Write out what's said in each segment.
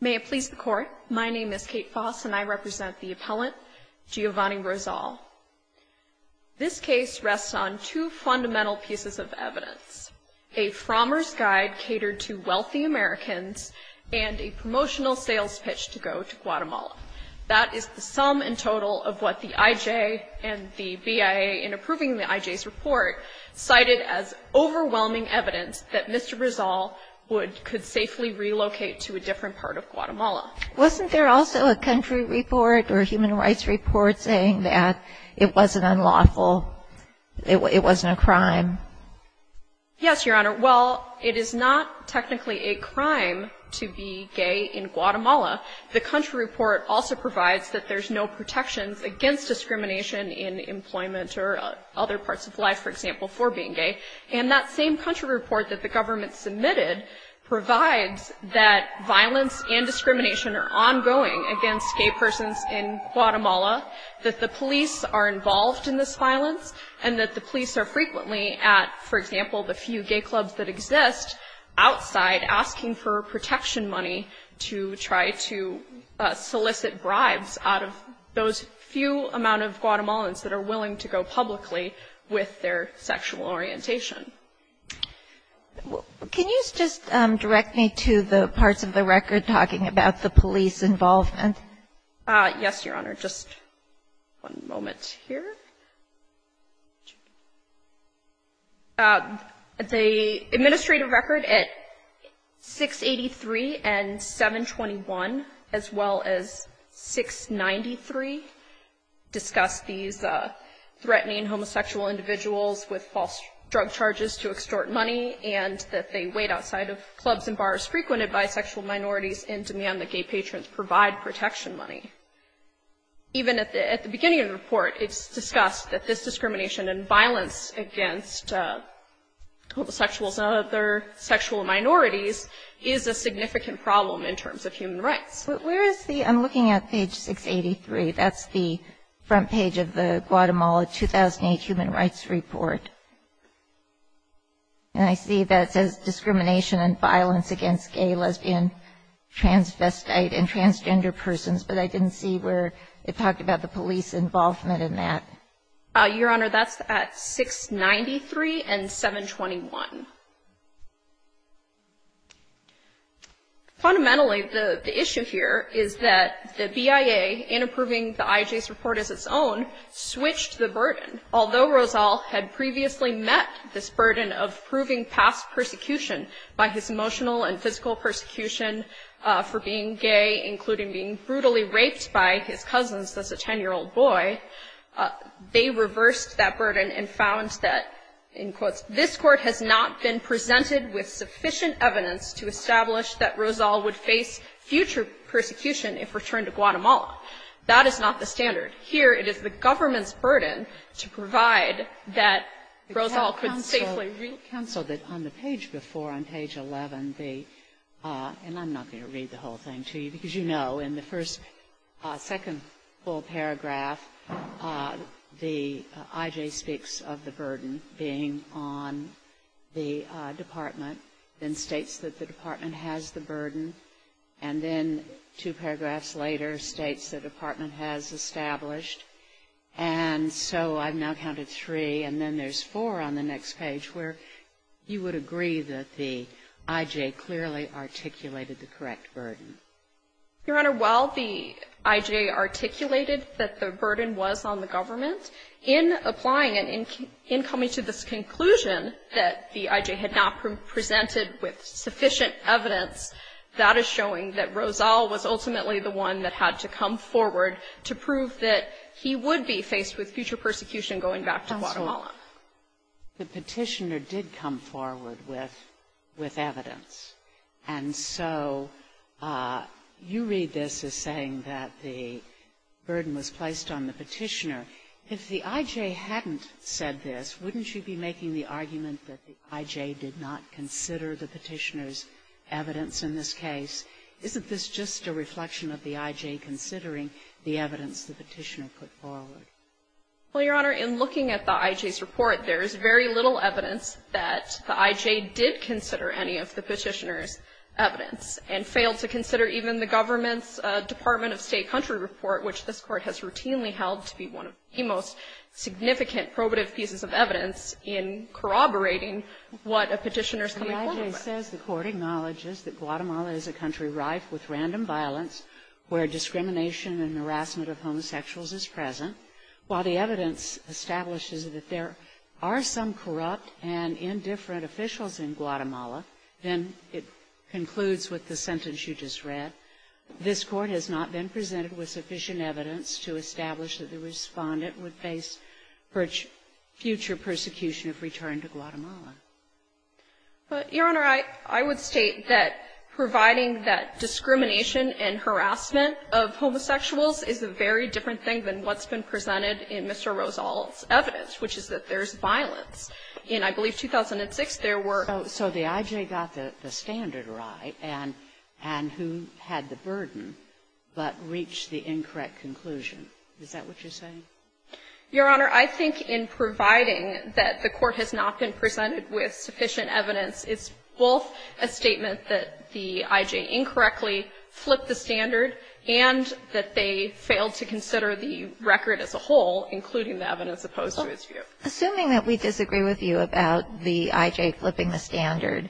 May it please the Court, my name is Kate Foss and I represent the appellant Giovanni Rosal. This case rests on two fundamental pieces of evidence, a Frommer's Guide catered to wealthy Americans and a promotional sales pitch to go to Guatemala. That is the sum in total of what the IJ and the BIA in approving the IJ's report cited as overwhelming evidence that Mr. Rosal could safely relocate to a different part of Guatemala. Wasn't there also a country report or human rights report saying that it wasn't unlawful, it wasn't a crime? Yes, Your Honor, well, it is not technically a crime to be gay in Guatemala. The country report also provides that there's no protections against discrimination in employment or other parts of life, for example, for being gay. And that same country report that the government submitted provides that violence and discrimination are ongoing against gay persons in Guatemala, that the police are involved in this violence, and that the police are frequently at, for example, the few gay clubs that exist outside asking for protection money to try to solicit bribes out of those few amount of Guatemalans that are willing to go publicly with their sexual orientation. Can you just direct me to the parts of the record talking about the police involvement? Yes, Your Honor, just one moment here. The administrative record at 683 and 721, as well as 693, discuss these sexual orientation threatening homosexual individuals with false drug charges to extort money and that they wait outside of clubs and bars frequented by sexual minorities and demand that gay patrons provide protection money. Even at the beginning of the report, it's discussed that this discrimination and violence against homosexuals and other sexual minorities is a significant problem in terms of human rights. Where is the, I'm looking at page 683, that's the front page of the Guatemala 2008 Human Rights Report. And I see that it says discrimination and violence against gay, lesbian, transvestite and transgender persons, but I didn't see where it talked about the police involvement in that. Your Honor, that's at 693 and 721. Fundamentally, the issue here is that the BIA, in approving the IJ's report as its own, switched the burden. Although Rozal had previously met this burden of proving past persecution by his emotional and physical persecution for being gay, including being brutally raped by his cousins as a 10-year-old boy, they reversed that burden and found that, in quotes, this Court has not been presented with sufficient evidence to establish that Rozal would face future persecution if returned to Guatemala. That is not the standard. Here it is the government's burden to provide that Rozal could safely return to Guatemala. Kagan. Counsel, counsel, that on the page before, on page 11, the, and I'm not going to read the whole thing to you, because you know in the first, second full paragraph, the IJ speaks of the burden being on the department, then states that the department has the burden, and then two paragraphs later states the department has established. And so I've now counted three, and then there's four on the next page where you would agree that the IJ clearly articulated the correct burden. Your Honor, while the IJ articulated that the burden was on the government, in applying it, in coming to this conclusion that the IJ had not presented with sufficient evidence, that is showing that Rozal was ultimately the one that had to come forward to prove that he would be faced with future persecution going back to Guatemala. The Petitioner did come forward with evidence. And so you read this as saying that the burden was placed on the Petitioner. If the IJ hadn't said this, wouldn't you be making the argument that the IJ did not consider the Petitioner's evidence in this case? Isn't this just a reflection of the IJ considering the evidence the Petitioner put forward? Well, Your Honor, in looking at the IJ's report, there is very little evidence that the IJ did consider any of the Petitioner's evidence, and failed to consider even the government's Department of State-Country report, which this Court has routinely held to be one of the most significant probative pieces of evidence in corroborating what a Petitioner's coming forward with. The IJ says the Court acknowledges that Guatemala is a country rife with random violence, where discrimination and harassment of homosexuals is present. While the evidence establishes that there are some corrupt and indifferent officials in Guatemala, then it concludes with the sentence you just read, this Court has not been presented with sufficient evidence to establish that the Respondent would face future persecution if returned to Guatemala. But, Your Honor, I would state that providing that discrimination and harassment of homosexuals is a very different thing than what's been presented in Mr. Rosal's evidence, which is that there's violence. In, I believe, 2006, there were – So the IJ got the standard right, and who had the burden, but reached the incorrect conclusion. Is that what you're saying? Your Honor, I think in providing that the Court has not been presented with sufficient evidence, it's both a statement that the IJ incorrectly flipped the standard and that they failed to consider the record as a whole, including the evidence opposed to its view. Assuming that we disagree with you about the IJ flipping the standard,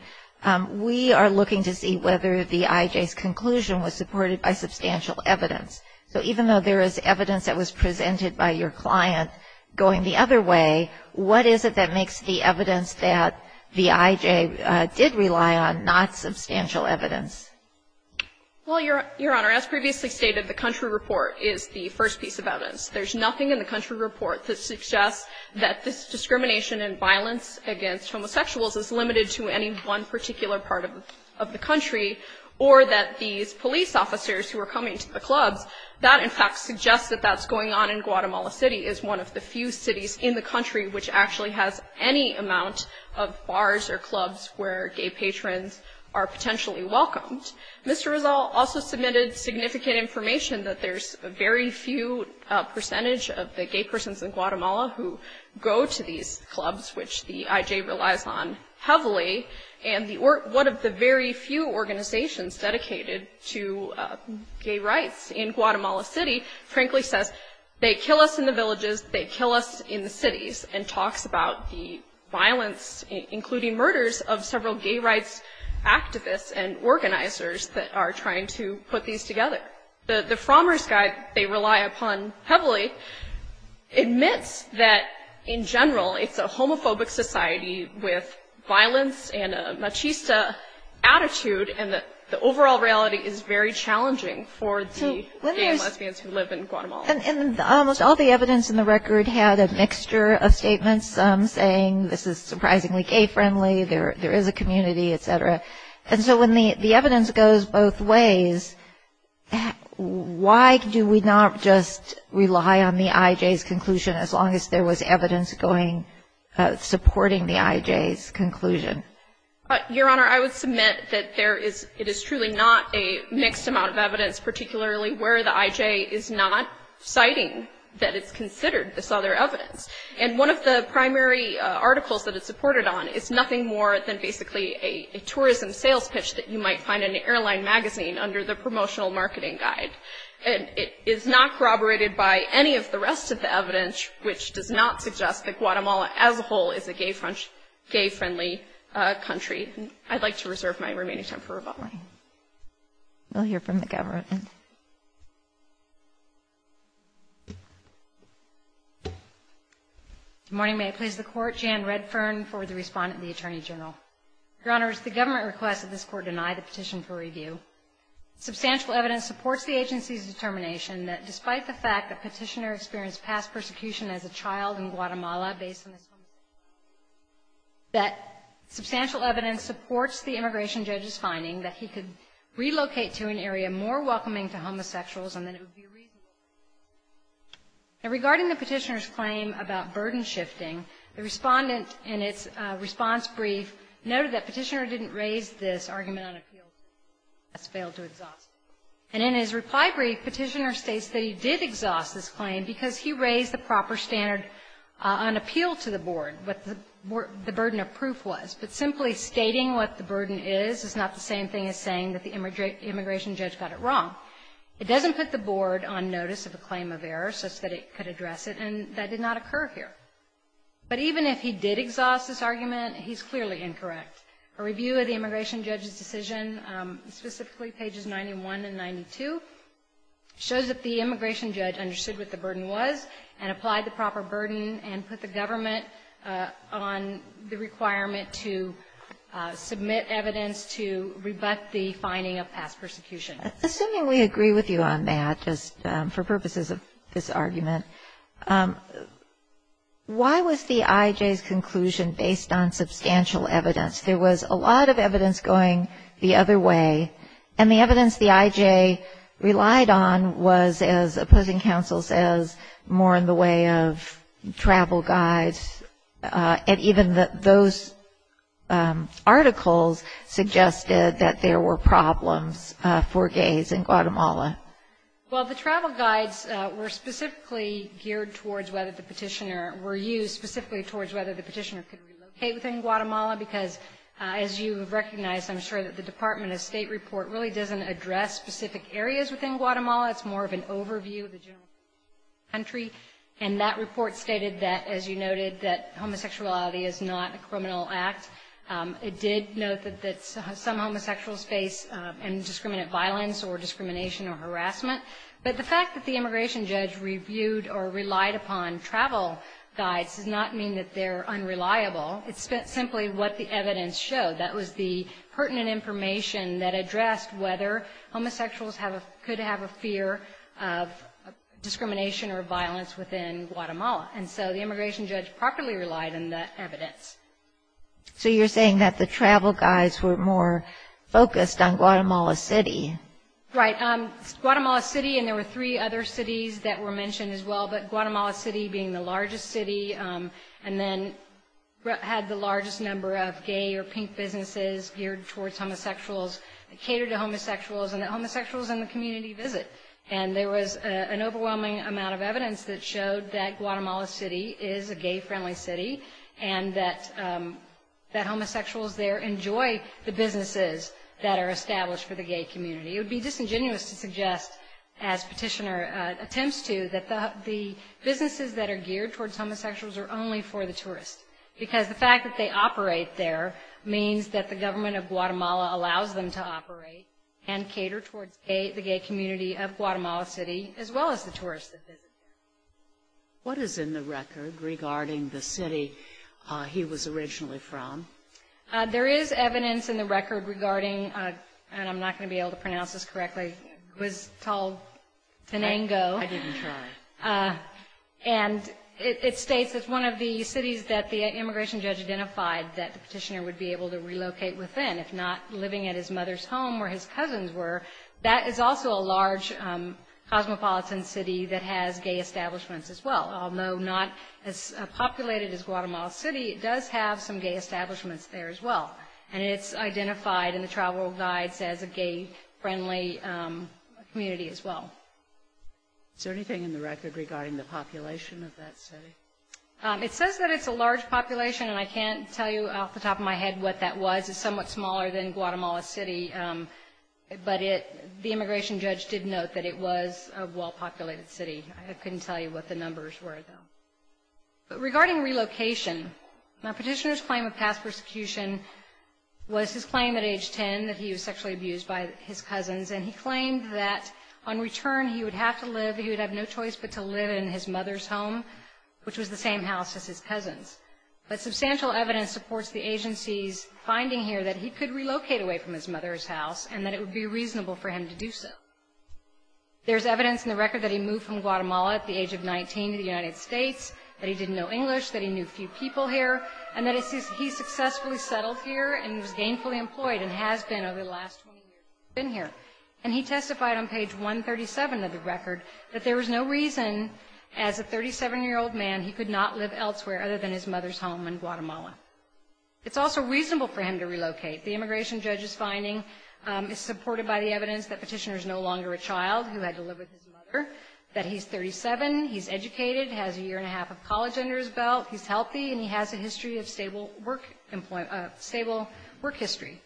we are looking to see whether the IJ's conclusion was supported by substantial evidence. So even though there is evidence that was presented by your client going the other way, what is it that makes the evidence that the IJ did rely on not substantial evidence? Well, Your Honor, as previously stated, the country report is the first piece of evidence. There's nothing in the country report that suggests that this discrimination and violence against homosexuals is limited to any one particular part of the country, or that these is one of the few cities in the country which actually has any amount of bars or clubs where gay patrons are potentially welcomed. Mr. Rizal also submitted significant information that there's a very few percentage of the gay persons in Guatemala who go to these clubs, which the IJ relies on heavily, and one of the very few organizations dedicated to gay rights in Guatemala City frankly says, they kill us in the villages, they kill us in the cities, and talks about the violence, including murders of several gay rights activists and organizers that are trying to put these together. The Frommer's Guide they rely upon heavily admits that in general it's a homophobic society with violence and a machista attitude, and the overall reality is very challenging for the gay and lesbians who live in Guatemala. And almost all the evidence in the record had a mixture of statements saying this is surprisingly gay-friendly, there is a community, etc. And so when the evidence goes both ways, why do we not just rely on the IJ's conclusion as long as there was evidence going, supporting the IJ's conclusion? Your Honor, I would submit that it is truly not a mixed amount of evidence, particularly where the IJ is not citing that it's considered this other evidence. And one of the primary articles that it's supported on is nothing more than basically a tourism sales pitch that you might find in an airline magazine under the Promotional Marketing Guide. And it is not corroborated by any of the rest of the evidence, which does not suggest that it's a homophobic country. I'd like to reserve my remaining time for rebuttal. We'll hear from the government. Good morning. May I please the Court? Jan Redfern for the respondent of the Attorney General. Your Honors, the government requests that this Court deny the petition for review. Substantial evidence supports the agency's determination that despite the fact that Petitioner experienced past persecution as a child in Guatemala based on this homophobic claim, that substantial evidence supports the immigration judge's finding that he could relocate to an area more welcoming to homosexuals and that it would be reasonable to do so. Now, regarding the Petitioner's claim about burden shifting, the respondent in its response brief noted that Petitioner didn't raise this argument on appeals, and thus failed to exhaust it. And in his reply brief, Petitioner states that he did exhaust this claim because he raised the proper standard on appeal to the Board, what the burden of proof was. But simply stating what the burden is is not the same thing as saying that the immigration judge got it wrong. It doesn't put the Board on notice of a claim of error such that it could address it, and that did not occur here. But even if he did exhaust this argument, he's clearly incorrect. A review of the immigration judge's decision, specifically pages 91 and 92, shows that the immigration judge understood what the burden was and applied the proper burden and put the government on the requirement to submit evidence to rebut the finding of past persecution. Assuming we agree with you on that, just for purposes of this argument, why was the IJ's conclusion based on substantial evidence? There was a lot of evidence going the other way, and the evidence the IJ relied on was, as opposing counsel says, more in the way of travel guides, and even those articles suggested that there were problems for gays in Guatemala. Well, the travel guides were specifically geared towards whether the Petitioner could relocate within Guatemala, because as you have recognized, I'm sure that the Department of State report really doesn't address specific areas within Guatemala. It's more of an overview of the general country. And that report stated that, as you noted, that homosexuality is not a criminal act. It did note that some homosexuals face indiscriminate violence or discrimination or harassment. But the fact that the immigration judge reviewed or relied upon travel guides does not mean that they're unreliable. It's simply what the evidence showed. That was the pertinent information that addressed whether homosexuals could have a fear of discrimination or violence within Guatemala. And so the immigration judge properly relied on that evidence. So you're saying that the travel guides were more focused on Guatemala City. Right. Guatemala City, and there were three other cities that were mentioned as well, but Guatemala City being the largest city, and then had the largest number of gay or pink businesses geared towards homosexuals, catered to homosexuals, and that homosexuals in the community visit. And there was an overwhelming amount of evidence that showed that Guatemala City is a gay-friendly city, and that homosexuals there enjoy the businesses that are established for the gay community. It would be disingenuous to suggest, as Petitioner attempts to, that the businesses that are geared towards homosexuals are only for the tourists, because the fact that they operate there means that the government of Guatemala allows them to operate and cater towards the gay community of Guatemala City, as well as the tourists that visit there. What is in the record regarding the city he was originally from? There is evidence in the record regarding, and I'm not going to be able to pronounce this correctly, Guztal Tanango. I didn't try. And it states that it's one of the cities that the immigration judge identified that the petitioner would be able to relocate within, if not living at his mother's home where his cousins were. That is also a large cosmopolitan city that has gay establishments as well. Although not as populated as Guatemala City, it does have some gay establishments there as well. And it's identified in the travel guides as a gay-friendly community as well. Is there anything in the record regarding the population of that city? It says that it's a large population, and I can't tell you off the top of my head what that was. It's somewhat smaller than Guatemala City, but the immigration judge did note that it was a well-populated city. I couldn't tell you what the numbers were, though. But regarding relocation, the petitioner's claim of past persecution was his claim at age 10 that he was sexually abused by his cousins, and he claimed that on return he would have to live, he would have no choice but to live in his mother's home, which was the same house as his cousins. But substantial evidence supports the agency's finding here that he could relocate away from his mother's house and that it would be reasonable for him to do so. There's evidence in the record that he moved from Guatemala at the age of 19 to the United States, that he didn't know English, that he knew few people here, and that he successfully settled here and was gainfully employed and has been over the last 20 years that he's been here. And he testified on page 137 of the record that there was no reason, as a 37-year-old man, he could not live elsewhere other than his mother's home in Guatemala. It's also reasonable for him to relocate. The immigration judge's finding is supported by the evidence that Petitioner is no longer a child who had to live with his mother, that he's 37, he's educated, has a year and a half of college under his belt, he's healthy, and he has a history of stable work employment, stable work history.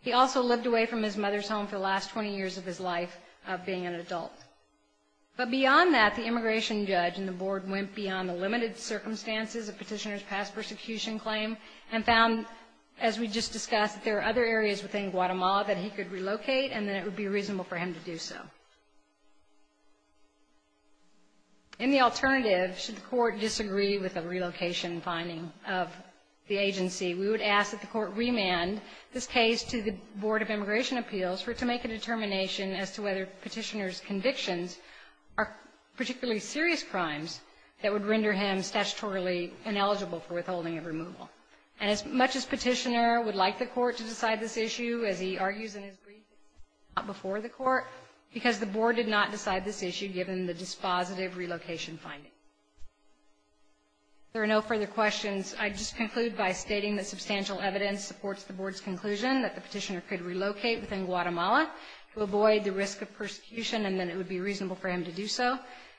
He also lived away from his mother's home for the last 20 years of his life of being an adult. But beyond that, the immigration judge and the board went beyond the limited circumstances of Petitioner's past persecution claim and found, as we just discussed, that there are other areas within Guatemala that he could relocate and that it would be reasonable for him to do so. In the alternative, should the court disagree with the relocation finding of the agency, we would ask that the court remand this case to the Board of Immigration Appeals for it to make a determination as to whether Petitioner's convictions are particularly serious crimes that would render him as he argues in his brief before the court, because the board did not decide this issue, given the dispositive relocation finding. If there are no further questions, I'd just conclude by stating that substantial evidence supports the board's conclusion that the Petitioner could relocate within Guatemala to avoid the risk of persecution and that it would be reasonable for him to do so,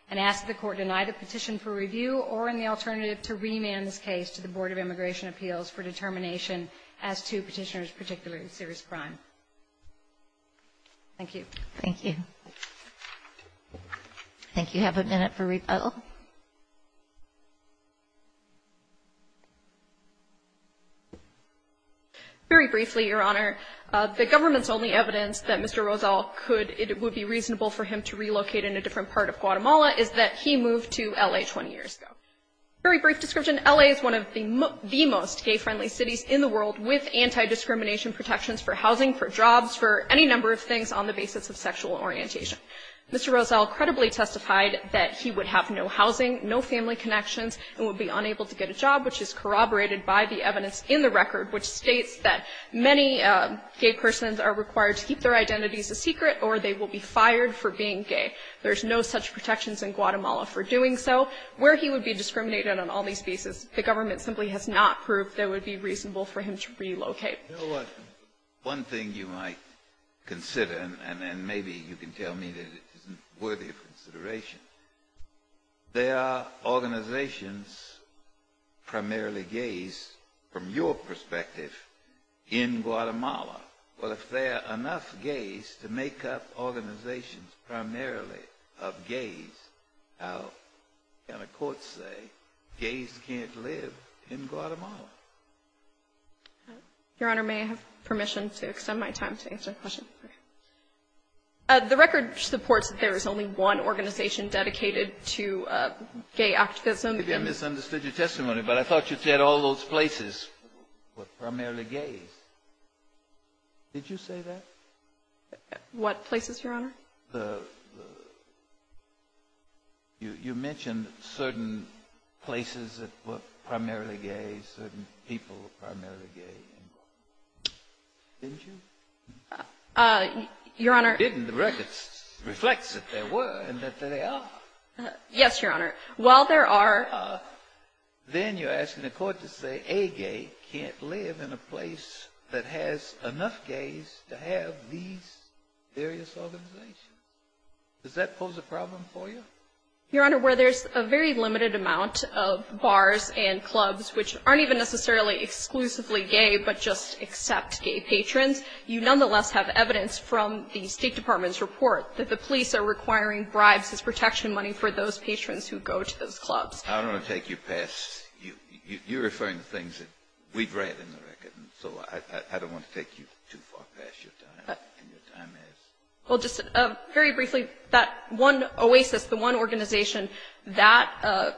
and ask that the court deny the petition for review or, in the alternative, to remand this case to the Board of Immigration Appeals for it to make a determination as to whether Petitioner's convictions are particularly serious crime. Thank you. Thank you. Thank you. Have a minute for rebuttal. Very briefly, Your Honor, the government's only evidence that Mr. Rozal could, it would be reasonable for him to relocate in a different part of Guatemala is that he moved to L.A. 20 years ago. Very brief description. L.A. is one of the most gay-friendly cities in the world, with anti-discrimination protections for housing, for jobs, for any number of things on the basis of sexual orientation. Mr. Rozal credibly testified that he would have no housing, no family connections, and would be unable to get a job, which is corroborated by the evidence in the record, which states that many gay persons are required to keep their identities a secret or they will be fired for being gay. There's no such protections in Guatemala for doing so. Where he would be discriminated on all these bases, the government simply has not proved that it would be reasonable for him to relocate. You know what? One thing you might consider, and maybe you can tell me that it isn't worthy of consideration, there are organizations primarily gays, from your perspective, in Guatemala. Well, if there are enough gays to make up organizations primarily of gays, how can a court say gays can't live in Guatemala? Your Honor, may I have permission to extend my time to answer questions? The record supports that there is only one organization dedicated to gay activism. Maybe I misunderstood your testimony, but I thought you said all those places were primarily gays. Did you say that? What places, Your Honor? You mentioned certain places that were primarily gays, certain people were primarily gay in Guatemala. Didn't you? Your Honor. Didn't. The record reflects that there were and that there are. Yes, Your Honor. While there are. Then you're asking the court to say a gay can't live in a place that has enough gays to have these various organizations. Does that pose a problem for you? Your Honor, where there's a very limited amount of bars and clubs, which aren't even necessarily exclusively gay, but just accept gay patrons, you nonetheless have evidence from the State Department's report that the police are requiring bribes as protection money for those patrons who go to those clubs. I don't want to take you past. You're referring to things that we've read in the record. So I don't want to take you too far past your time. Well, just very briefly, that one oasis, the one organization, that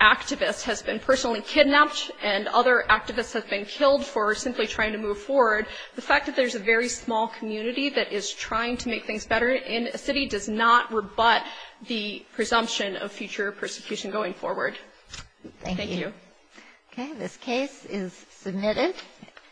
activist has been personally kidnapped and other activists have been killed for simply trying to move forward. The fact that there's a very small community that is trying to make things better in a city does not rebut the fact that there's a very small community that is trying to make things better in a city does not rebut the fact that